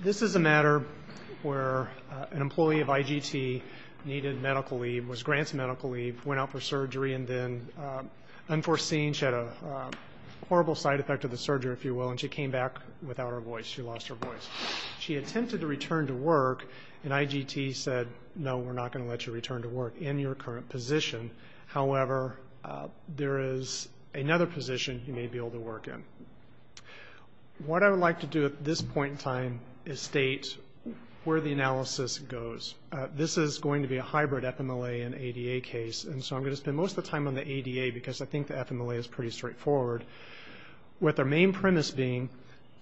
This is a matter where an employee of IGT needed medical leave, was granted medical leave, went out for surgery, and then unforeseen she had a horrible side effect of the surgery, if you will, and she came back without her voice. She lost her voice. She attempted to return to work and IGT said, no, we're not going to let you return to work in your current position. However, there is another position you may be able to work in. What I would like to do at this point in time is state where the analysis goes. This is going to be a hybrid FMLA and ADA case, and so I'm going to spend most of the time on the ADA because I think the FMLA is pretty straightforward, with our main premise being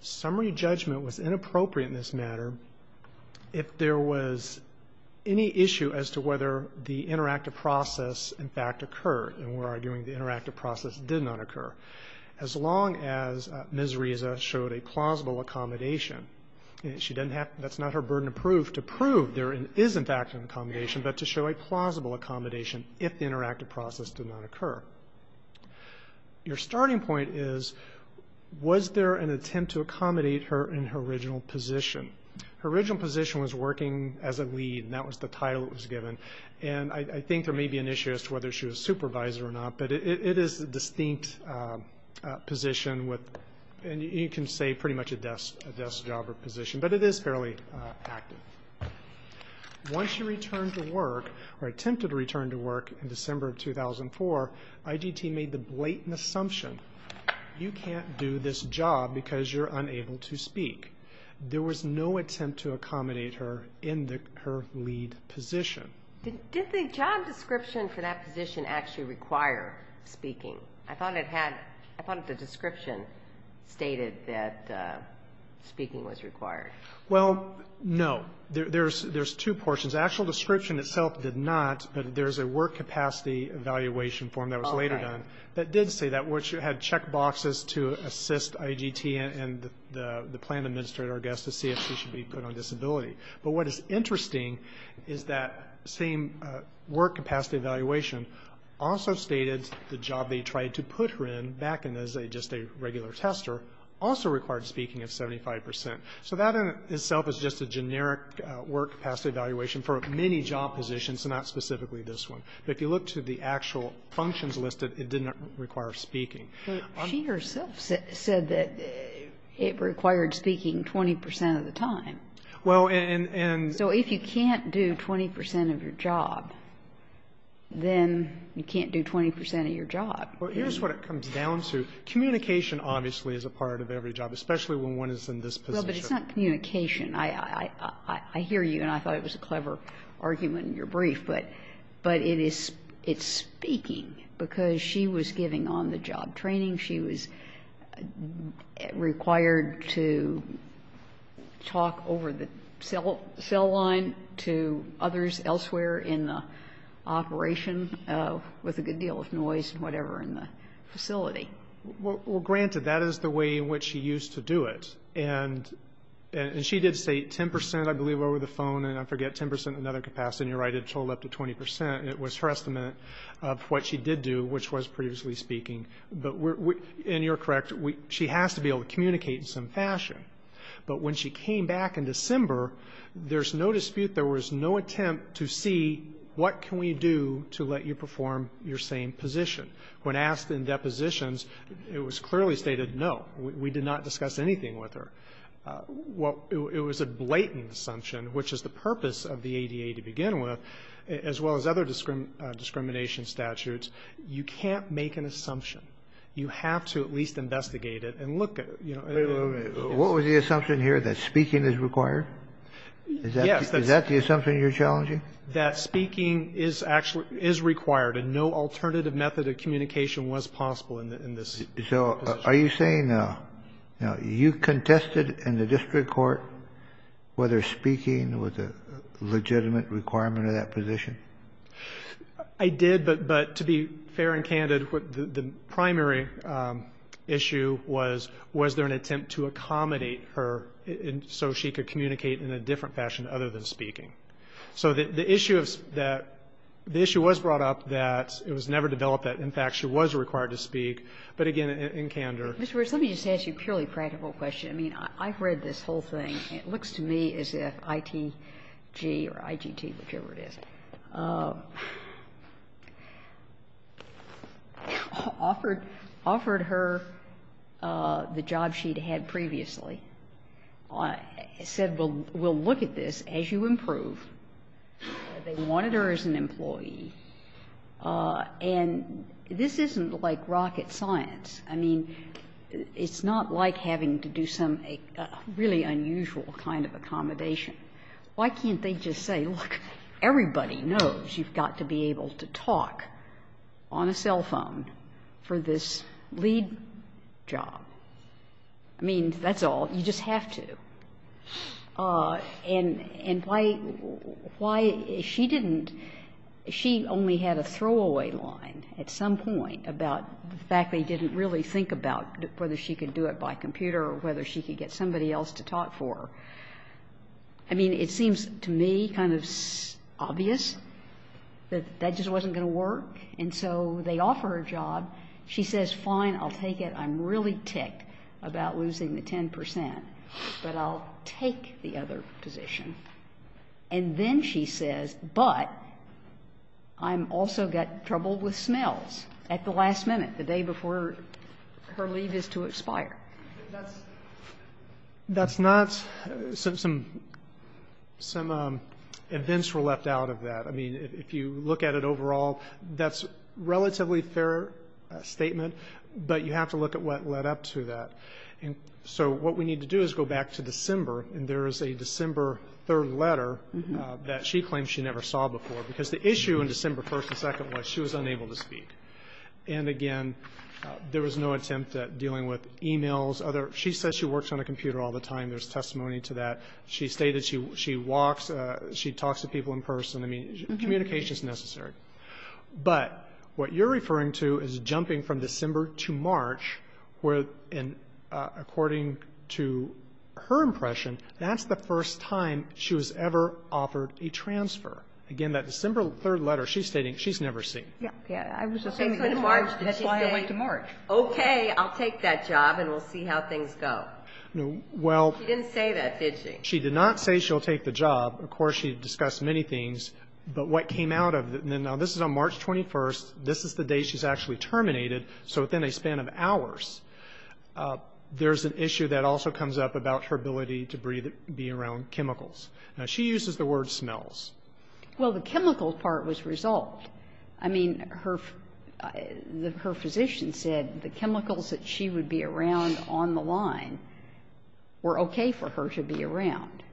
summary judgment was inappropriate in this matter if there was any issue as to whether the interactive process in fact occurred, and we're arguing the interactive process did not occur, as long as Ms. Reza showed a plausible accommodation. That's not her burden of proof to prove there is in fact an accommodation, but to show a plausible accommodation if the interactive process did not occur. Your starting point is, was there an attempt to accommodate her in her original position? Her original position was working as a lead, and that was the title that was given, and I think there may be an issue as to whether she was supervisor or not, but it is a distinct position with, and you can say pretty much a desk job or position, but it is fairly active. Once she returned to work, or attempted to return to work in December of 2004, IGT made the blatant assumption, you can't do this job because you're unable to speak. There was no attempt to accommodate her in her lead position. Did the job description for that position actually require speaking? I thought the description stated that speaking was required. Well, no. There's two portions. The actual description itself did not, but there's a work capacity evaluation form that was later done that did say that once you had check boxes to assist IGT and the plan administrator, I guess, to see if she should be put on disability. But what is interesting is that same work capacity evaluation also stated the job they tried to put her in back in as just a regular tester also required speaking of 75 percent. So that in itself is just a generic work capacity evaluation for many job positions and not specifically this one. But if you look to the actual functions listed, it didn't require speaking. But she herself said that it required speaking 20 percent of the time. Well, and so if you can't do 20 percent of your job, then you can't do 20 percent of your job. Well, here's what it comes down to. Communication obviously is a part of every job, especially when one is in this position. Well, but it's not communication. I hear you, and I thought it was a clever argument in your brief. But it's speaking because she was giving on the job training. She was required to talk over the cell line to others elsewhere in the operation with a good deal of noise and whatever in the facility. Well, granted, that is the way in which she used to do it. And she did say 10 percent, I believe, over the phone, and I forget, 10 percent in another capacity. And you're right, it totaled up to 20 percent. And it was her estimate of what she did do, which was previously speaking. And you're correct. She has to be able to communicate in some fashion. But when she came back in December, there's no dispute, there was no attempt to see what can we do to let you perform your same position. When asked in depositions, it was clearly stated, no, we did not discuss anything with her. Well, it was a blatant assumption, which is the purpose of the ADA to begin with, as well as other discrimination statutes. You can't make an assumption. You have to at least investigate it and look at it. Wait a minute. What was the assumption here, that speaking is required? Yes. Is that the assumption you're challenging? That speaking is required, and no alternative method of communication was possible in this position. So are you saying, you know, you contested in the district court whether speaking was a legitimate requirement of that position? I did, but to be fair and candid, the primary issue was, was there an attempt to accommodate her so she could communicate in a different fashion other than speaking? So the issue of that, the issue was brought up that it was never developed that, in fact, she was required to speak. But, again, in candor. Mr. Wirtz, let me just ask you a purely practical question. I mean, I've read this whole thing. It looks to me as if ITG or ITT, whichever it is, offered her the job she'd had previously, said, well, we'll look at this as you improve. They wanted her as an employee. And this isn't like rocket science. I mean, it's not like having to do some really unusual kind of accommodation. Why can't they just say, look, everybody knows you've got to be able to talk on a cell phone for this lead job? I mean, that's all. You just have to. And why she didn't, she only had a throwaway line at some point about the fact they didn't really think about whether she could do it by computer or whether she could get somebody else to talk for her. I mean, it seems to me kind of obvious that that just wasn't going to work. And so they offer her a job. She says, fine, I'll take it. I'm really ticked about losing the 10 percent. But I'll take the other position. And then she says, but I've also got trouble with smells at the last minute, the day before her leave is to expire. That's not some events were left out of that. I mean, if you look at it overall, that's a relatively fair statement, but you have to look at what led up to that. And so what we need to do is go back to December. And there is a December 3rd letter that she claims she never saw before, because the issue in December 1st and 2nd was she was unable to speak. And again, there was no attempt at dealing with e-mails. She says she works on a computer all the time. There's testimony to that. She stated she walks, she talks to people in person. I mean, communication is necessary. But what you're referring to is jumping from December to March, where according to her impression, that's the first time she was ever offered a transfer. Again, that December 3rd letter, she's stating she's never seen. Okay, I'll take that job, and we'll see how things go. She didn't say that, did she? She did not say she'll take the job. Of course, she discussed many things. But what came out of it, now, this is on March 21st. This is the day she's actually terminated. So within a span of hours, there's an issue that also comes up about her ability to be around chemicals. Now, she uses the word smells. Well, the chemical part was resolved. I mean, her physician said the chemicals that she would be around on the line were okay for her to be around.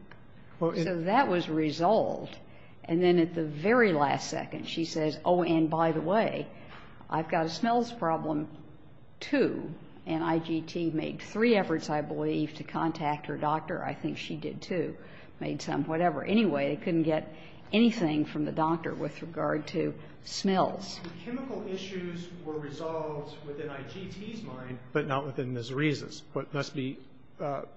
So that was resolved. And then at the very last second, she says, oh, and by the way, I've got a smells problem, too. And IGT made three efforts, I believe, to contact her doctor. I think she did, too. Made some whatever. Anyway, they couldn't get anything from the doctor with regard to smells. The chemical issues were resolved within IGT's mind, but not within Ms. Reese's. What must be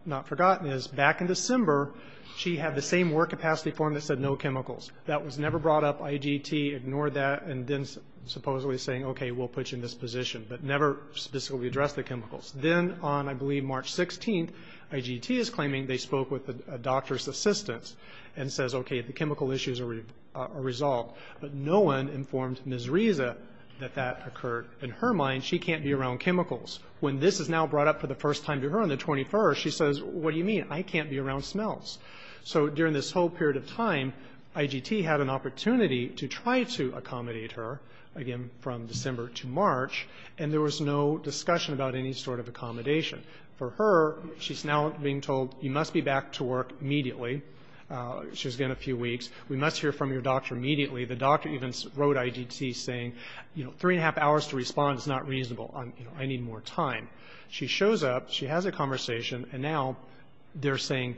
not forgotten is back in December, she had the same work capacity form that said no chemicals. That was never brought up. IGT ignored that and then supposedly saying, okay, we'll put you in this position. But never specifically addressed the chemicals. Then on, I believe, March 16th, IGT is claiming they spoke with a doctor's assistant and says, okay, the chemical issues are resolved. But no one informed Ms. Reese that that occurred. In her mind, she can't be around chemicals. When this is now brought up for the first time to her on the 21st, she says, what do you mean? I can't be around smells. So during this whole period of time, IGT had an opportunity to try to accommodate her, again, from December to March, and there was no discussion about any sort of accommodation. For her, she's now being told, you must be back to work immediately. She was gone a few weeks. We must hear from your doctor immediately. The doctor even wrote IGT saying, you know, three and a half hours to respond is not reasonable. I need more time. She shows up. She has a conversation. And now they're saying,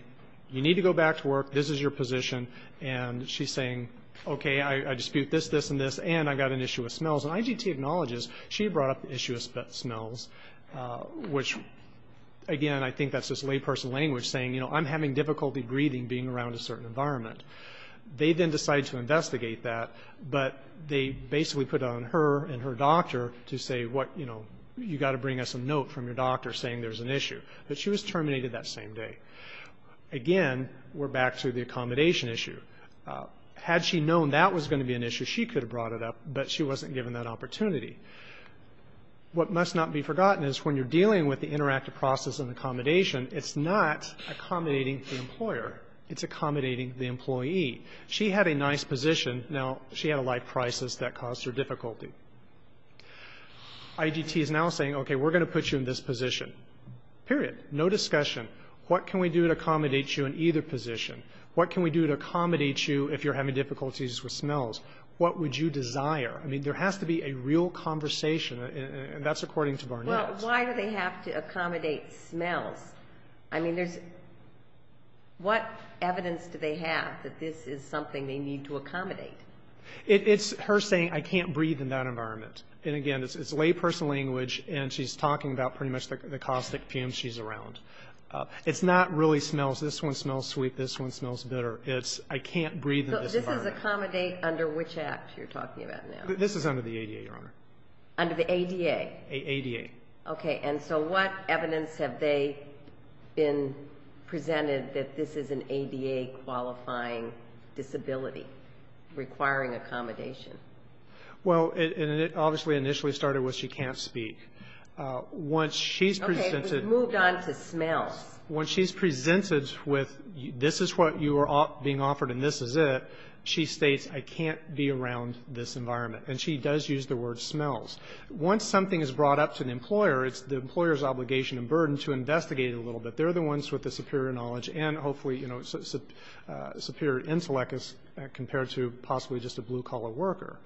you need to go back to work. This is your position. And she's saying, okay, I dispute this, this, and this, and I've got an issue with smells. And IGT acknowledges she brought up the issue of smells, which, again, I think that's just layperson language saying, you know, I'm having difficulty breathing being around a certain environment. They then decide to investigate that. But they basically put it on her and her doctor to say, you know, you've got to bring us a note from your doctor saying there's an issue. But she was terminated that same day. Again, we're back to the accommodation issue. Had she known that was going to be an issue, she could have brought it up, but she wasn't given that opportunity. What must not be forgotten is when you're dealing with the interactive process and accommodation, it's not accommodating the employer, it's accommodating the employee. She had a nice position. Now she had a life crisis that caused her difficulty. IGT is now saying, okay, we're going to put you in this position. Period. No discussion. What can we do to accommodate you in either position? What can we do to accommodate you if you're having difficulties with smells? What would you desire? I mean, there has to be a real conversation, and that's according to Barnett. Well, why do they have to accommodate smells? I mean, there's what evidence do they have that this is something they need to accommodate? It's her saying I can't breathe in that environment. And, again, it's layperson language, and she's talking about pretty much the caustic fumes she's around. It's not really smells. This one smells sweet. This one smells bitter. It's I can't breathe in this environment. So this is accommodate under which act you're talking about now? This is under the ADA, Your Honor. Under the ADA? ADA. Okay. And so what evidence have they been presented that this is an ADA-qualifying disability requiring accommodation? Well, and it obviously initially started with she can't speak. Okay. We've moved on to smells. When she's presented with this is what you are being offered and this is it, she states I can't be around this environment, and she does use the word smells. Once something is brought up to an employer, it's the employer's obligation and burden to investigate it a little bit. They're the ones with the superior knowledge and, hopefully, you know, superior intellect as compared to possibly just a blue-collar worker.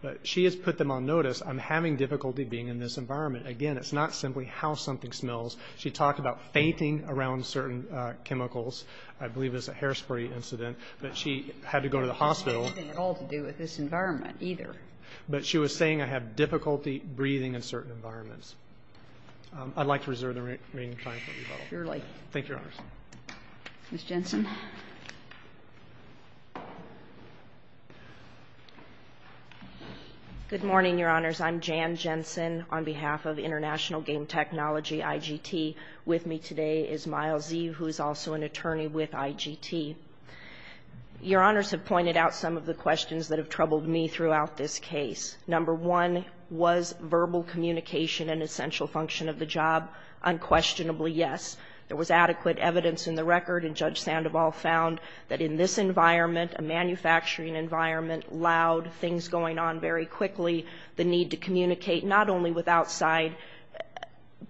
But she has put them on notice I'm having difficulty being in this environment. Again, it's not simply how something smells. She talked about fainting around certain chemicals. I believe it was a hairspray incident. But she had to go to the hospital. It had nothing at all to do with this environment either. But she was saying I have difficulty breathing in certain environments. I'd like to reserve the remaining time for rebuttal. Thank you, Your Honors. Ms. Jensen. Good morning, Your Honors. I'm Jan Jensen on behalf of International Game Technology, IGT. With me today is Miles Eve, who is also an attorney with IGT. Your Honors have pointed out some of the questions that have troubled me throughout this case. Number one, was verbal communication an essential function of the job? Unquestionably, yes. There was adequate evidence in the record, and Judge Sandoval found that in this environment, a manufacturing environment, loud, things going on very quickly, the need to communicate not only with outside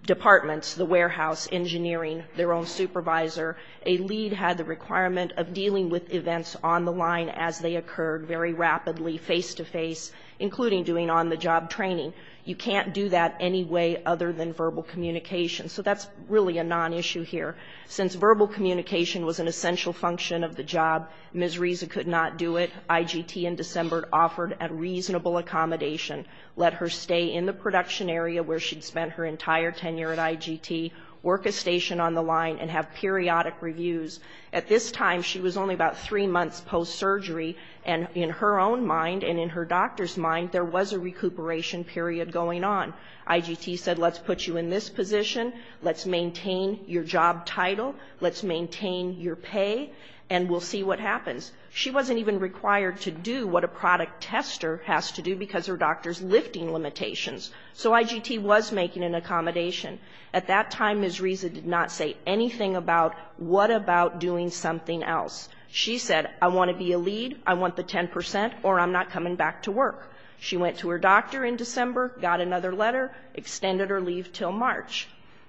departments, the warehouse, engineering, their own supervisor. A lead had the requirement of dealing with events on the line as they occurred very rapidly face-to-face, including doing on-the-job training. You can't do that any way other than verbal communication. So that's really a non-issue here. Since verbal communication was an essential function of the job, Ms. Risa could not do it. IGT in December offered a reasonable accommodation, let her stay in the production area where she'd spent her entire tenure at IGT, work a station on the line and have periodic reviews. At this time, she was only about three months post-surgery, and in her own mind and in her doctor's mind, there was a recuperation period going on. IGT said, let's put you in this position, let's maintain your job title, let's maintain your pay, and we'll see what happens. She wasn't even required to do what a product tester has to do because her doctor's lifting limitations. So IGT was making an accommodation. At that time, Ms. Risa did not say anything about what about doing something else. She said, I want to be a lead, I want the 10 percent, or I'm not coming back to work. She went to her doctor in December, got another letter, extended her leave until March.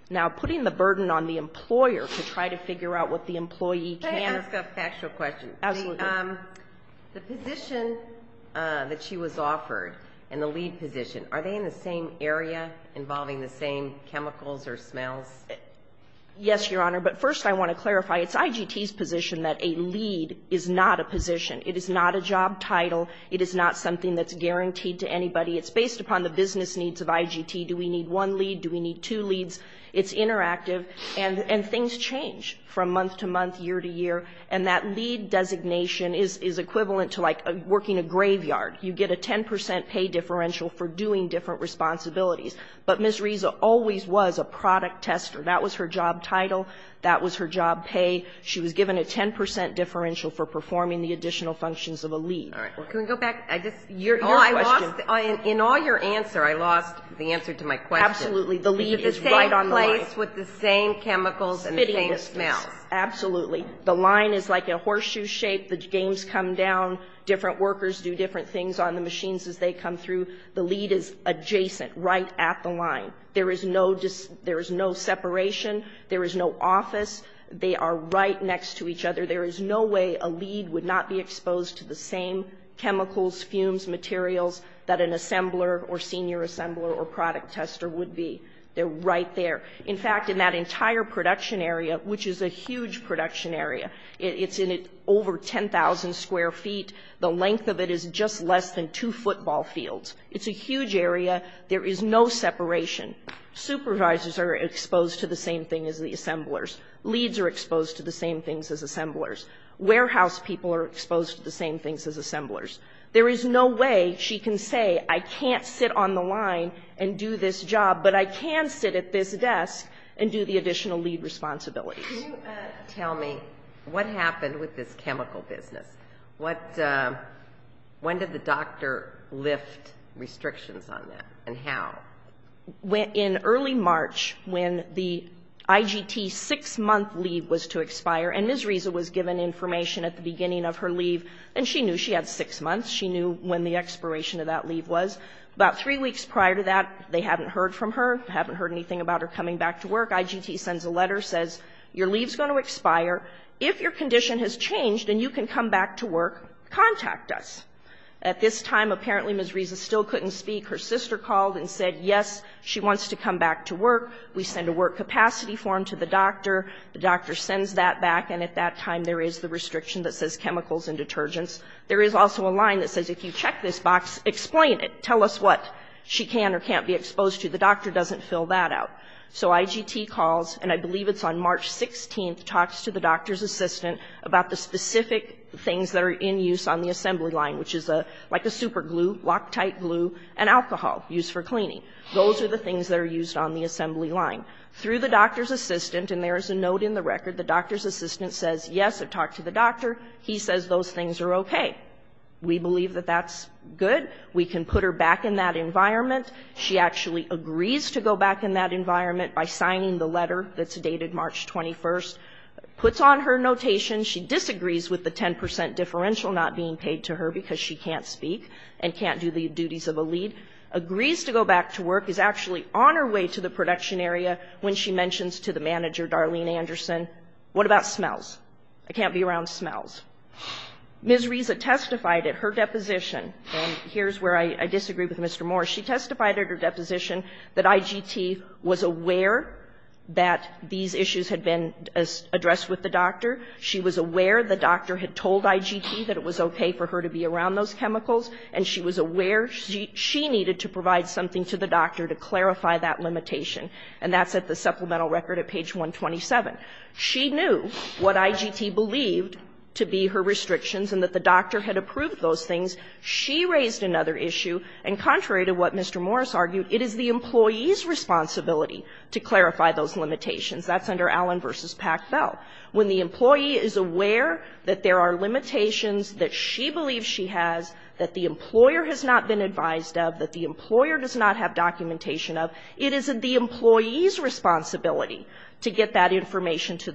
Now, putting the burden on the employer to try to figure out what the employee can't. Can I ask a factual question? Absolutely. The position that she was offered and the lead position, are they in the same area involving the same chemicals or smells? Yes, Your Honor. But first I want to clarify, it's IGT's position that a lead is not a position. It is not a job title. It is not something that's guaranteed to anybody. It's based upon the business needs of IGT. Do we need one lead? Do we need two leads? It's interactive. And things change from month to month, year to year. And that lead designation is equivalent to like working a graveyard. You get a 10 percent pay differential for doing different responsibilities. But Ms. Reza always was a product tester. That was her job title. That was her job pay. She was given a 10 percent differential for performing the additional functions of a lead. All right. Well, can we go back? I just, your question. In all your answer, I lost the answer to my question. Absolutely. The lead is right on the line. The same place with the same chemicals and the same smells. Absolutely. The line is like a horseshoe shape. The games come down. Different workers do different things on the machines as they come through. The lead is adjacent, right at the line. There is no separation. There is no office. They are right next to each other. There is no way a lead would not be exposed to the same chemicals, fumes, materials that an assembler or senior assembler or product tester would be. They're right there. In fact, in that entire production area, which is a huge production area, it's over 10,000 square feet. The length of it is just less than two football fields. It's a huge area. There is no separation. Supervisors are exposed to the same thing as the assemblers. Leads are exposed to the same things as assemblers. Warehouse people are exposed to the same things as assemblers. There is no way she can say, I can't sit on the line and do this job, but I can sit at this desk and do the additional lead responsibilities. Can you tell me what happened with this chemical business? When did the doctor lift restrictions on that, and how? In early March, when the IGT six-month leave was to expire, and Ms. Risa was given information at the beginning of her leave, and she knew she had six months. She knew when the expiration of that leave was. About three weeks prior to that, they hadn't heard from her, haven't heard anything about her coming back to work. IGT sends a letter, says, your leave's going to expire. If your condition has changed and you can come back to work, contact us. At this time, apparently, Ms. Risa still couldn't speak. Her sister called and said, yes, she wants to come back to work. We send a work capacity form to the doctor. The doctor sends that back, and at that time, there is the restriction that says chemicals and detergents. There is also a line that says, if you check this box, explain it. Tell us what she can or can't be exposed to. The doctor doesn't fill that out. So IGT calls, and I believe it's on March 16th, talks to the doctor's assistant about the specific things that are in use on the assembly line, which is like a super glue, Loctite glue, and alcohol used for cleaning. Those are the things that are used on the assembly line. Through the doctor's assistant, and there is a note in the record, the doctor's assistant says, yes, I've talked to the doctor. He says those things are okay. We believe that that's good. We can put her back in that environment. She actually agrees to go back in that environment by signing the letter that's dated March 21st. Puts on her notation. She disagrees with the 10 percent differential not being paid to her because she can't speak and can't do the duties of a lead. Agrees to go back to work. Is actually on her way to the production area when she mentions to the manager, Darlene Anderson, what about smells? I can't be around smells. Ms. Risa testified at her deposition, and here's where I disagree with Mr. Moore. She testified at her deposition that IGT was aware that these issues had been addressed with the doctor. She was aware the doctor had told IGT that it was okay for her to be around those chemicals, and she was aware she needed to provide something to the doctor to clarify that limitation. And that's at the supplemental record at page 127. She knew what IGT believed to be her restrictions and that the doctor had approved those things. She raised another issue, and contrary to what Mr. Morris argued, it is the employee's responsibility to clarify those limitations. That's under Allen v. Packbell. When the employee is aware that there are limitations that she believes she has, that the employer has not been advised of, that the employer does not have documentation of, it is the employee's responsibility to get that information to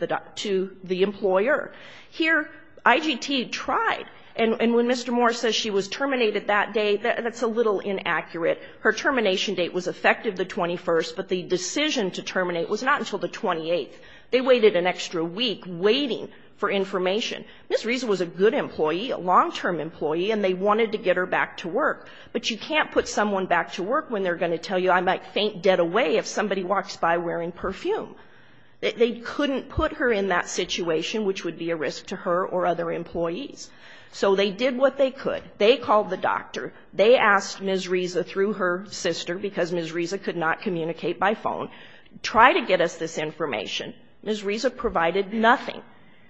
the employer. Here, IGT tried. And when Mr. Morris says she was terminated that day, that's a little inaccurate. Her termination date was effective the 21st, but the decision to terminate was not until the 28th. They waited an extra week waiting for information. Ms. Reason was a good employee, a long-term employee, and they wanted to get her back to work. But you can't put someone back to work when they're going to tell you, I might faint dead away if somebody walks by wearing perfume. They couldn't put her in that situation, which would be a risk to her or other employees. So they did what they could. They called the doctor. They asked Ms. Reason through her sister, because Ms. Reason could not communicate by phone, try to get us this information. Ms. Reason provided nothing.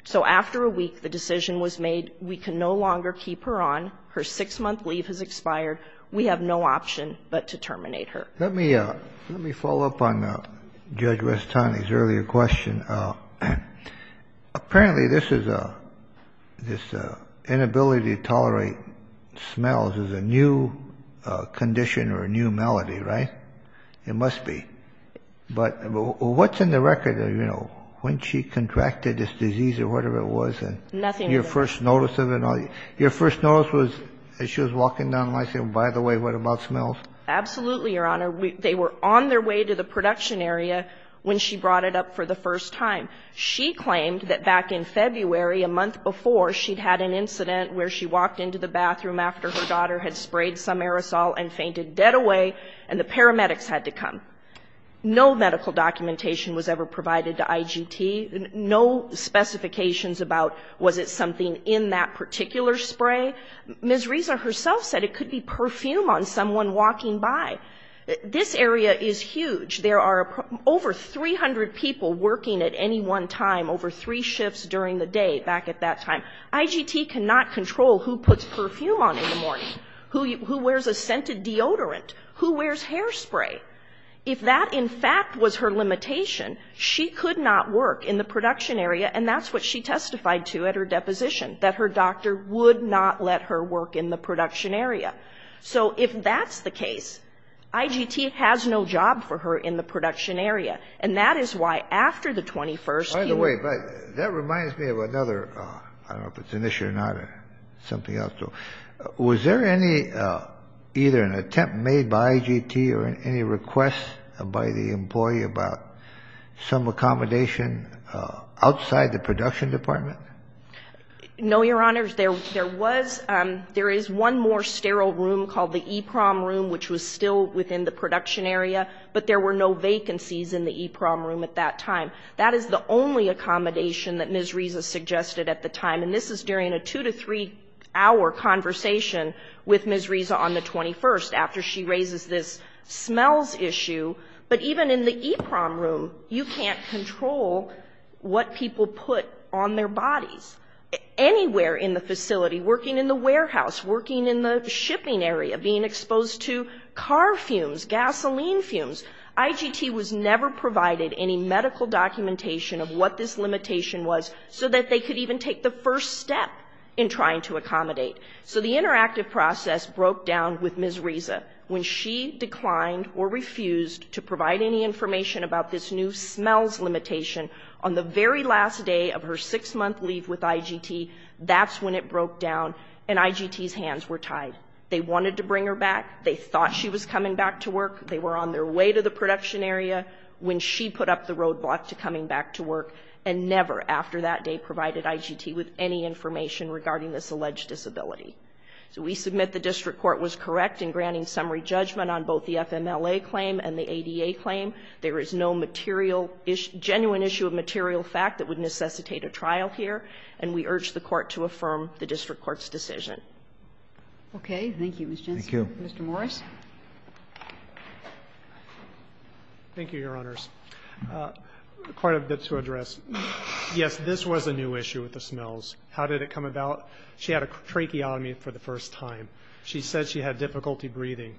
So after a week, the decision was made, we can no longer keep her on. Her six-month leave has expired. We have no option but to terminate her. Let me follow up on Judge Restani's earlier question. Apparently, this inability to tolerate smells is a new condition or a new malady, right? It must be. But what's in the record? You know, when she contracted this disease or whatever it was? Nothing. Your first notice of it? Your first notice was as she was walking down the line saying, by the way, what about smells? Absolutely, Your Honor. They were on their way to the production area when she brought it up for the first time. She claimed that back in February, a month before, she'd had an incident where she walked into the bathroom after her daughter had sprayed some aerosol and fainted dead away, and the paramedics had to come. No medical documentation was ever provided to IGT. No specifications about was it something in that particular spray. Ms. Reza herself said it could be perfume on someone walking by. This area is huge. There are over 300 people working at any one time over three shifts during the day back at that time. IGT cannot control who puts perfume on in the morning, who wears a scented deodorant, who wears hairspray. If that, in fact, was her limitation, she could not work in the production area, and that's what she testified to at her deposition, that her doctor would not let her work in the production area. So if that's the case, IGT has no job for her in the production area, and that is why after the 21st year ---- By the way, that reminds me of another, I don't know if it's an issue or not, or something else. Was there any, either an attempt made by IGT or any request by the employee about some No, Your Honors. There was one more sterile room called the EEPROM room, which was still within the production area, but there were no vacancies in the EEPROM room at that time. That is the only accommodation that Ms. Reza suggested at the time. And this is during a two-to-three-hour conversation with Ms. Reza on the 21st, after she raises this smells issue. But even in the EEPROM room, you can't control what people put on their bodies. Anywhere in the facility, working in the warehouse, working in the shipping area, being exposed to car fumes, gasoline fumes, IGT was never provided any medical documentation of what this limitation was, so that they could even take the first step in trying to accommodate. So the interactive process broke down with Ms. Reza. When she declined or refused to provide any information about this new smells limitation on the very last day of her six-month leave with IGT, that's when it broke down, and IGT's hands were tied. They wanted to bring her back. They thought she was coming back to work. They were on their way to the production area when she put up the roadblock to coming back to work, and never after that day provided IGT with any information regarding this alleged disability. So we submit the district court was correct in granting summary judgment on both the FMLA claim and the ADA claim. There is no material issue, genuine issue of material fact that would necessitate a trial here, and we urge the Court to affirm the district court's decision. Okay. Thank you, Ms. Jensen. Thank you. Mr. Morris. Thank you, Your Honors. Quite a bit to address. Yes, this was a new issue with the smells. How did it come about? She had a tracheotomy for the first time. She said she had difficulty breathing.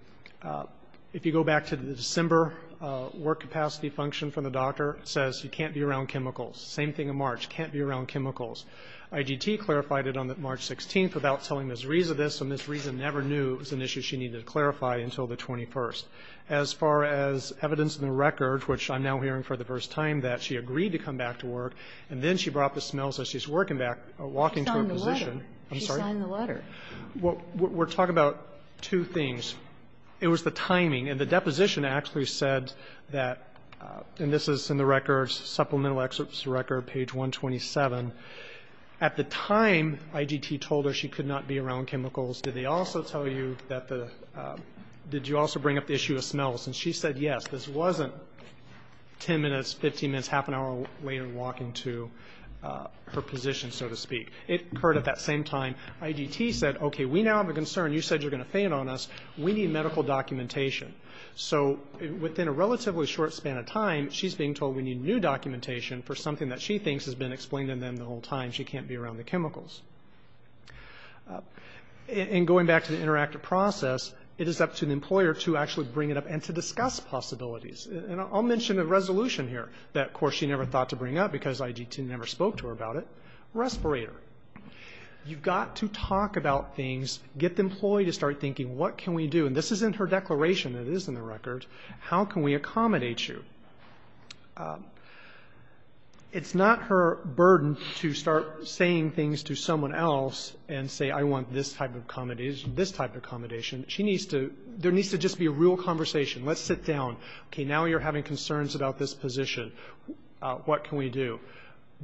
If you go back to the December work capacity function from the doctor, it says you can't be around chemicals. Same thing in March. Can't be around chemicals. IGT clarified it on March 16th without telling Ms. Rees of this, and Ms. Rees never knew it was an issue she needed to clarify until the 21st. As far as evidence in the record, which I'm now hearing for the first time that she agreed to come back to work, and then she brought the smells that she's working back, walking to her position. She signed the letter. I'm sorry? She signed the letter. We're talking about two things. It was the timing, and the deposition actually said that, and this is in the record, supplemental excerpts to record, page 127. At the time IGT told her she could not be around chemicals, did they also tell you that the – did you also bring up the issue of smells? And she said yes. This wasn't 10 minutes, 15 minutes, half an hour later walking to her position, so to speak. It occurred at that same time. IGT said, okay, we now have a concern. You said you're going to faint on us. We need medical documentation. So within a relatively short span of time, she's being told we need new documentation for something that she thinks has been explained to them the whole time, she can't be around the chemicals. And going back to the interactive process, it is up to the employer to actually bring it up and to discuss possibilities. And I'll mention a resolution here that, of course, she never thought to bring up because IGT never spoke to her about it, respirator. You've got to talk about things, get the employee to start thinking, what can we do? And this is in her declaration. It is in the record. How can we accommodate you? It's not her burden to start saying things to someone else and say, I want this type of accommodation, this type of accommodation. There needs to just be a real conversation. Let's sit down. Okay. Now you're having concerns about this position. What can we do?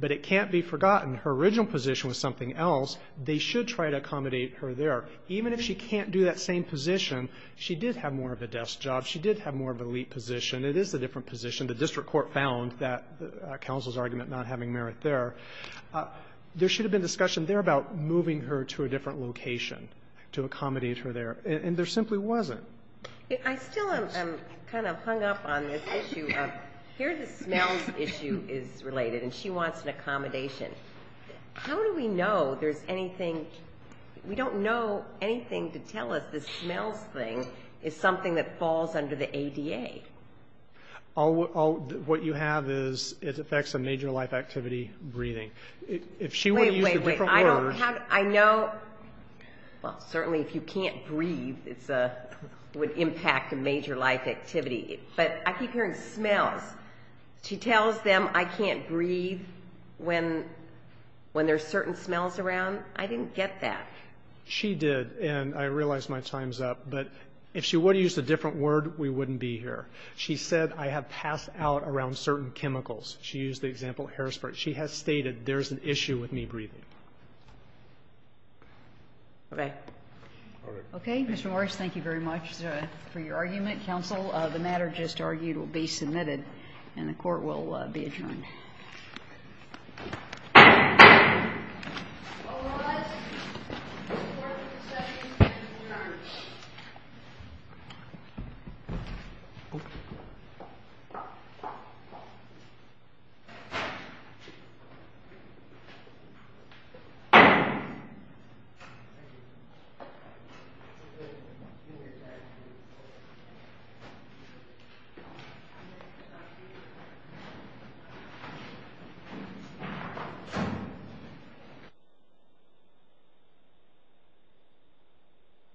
But it can't be forgotten, her original position was something else. They should try to accommodate her there. Even if she can't do that same position, she did have more of a desk job. She did have more of an elite position. It is a different position. The district court found that counsel's argument not having merit there. There should have been discussion there about moving her to a different location to accommodate her there. And there simply wasn't. I still am kind of hung up on this issue. Here the smells issue is related, and she wants an accommodation. How do we know there's anything? We don't know anything to tell us the smells thing is something that falls under the ADA. What you have is it affects a major life activity, breathing. Wait, wait, wait. I know. Well, certainly if you can't breathe, it would impact a major life activity. But I keep hearing smells. She tells them I can't breathe when there's certain smells around. I didn't get that. She did, and I realize my time's up. But if she would have used a different word, we wouldn't be here. She said I have passed out around certain chemicals. She used the example of Harrisburg. She has stated there's an issue with me breathing. Okay. All right. Okay, Mr. Morris, thank you very much for your argument. Counsel, the matter just argued will be submitted, and the court will be adjourned. All rise. Court is adjourned. Thank you.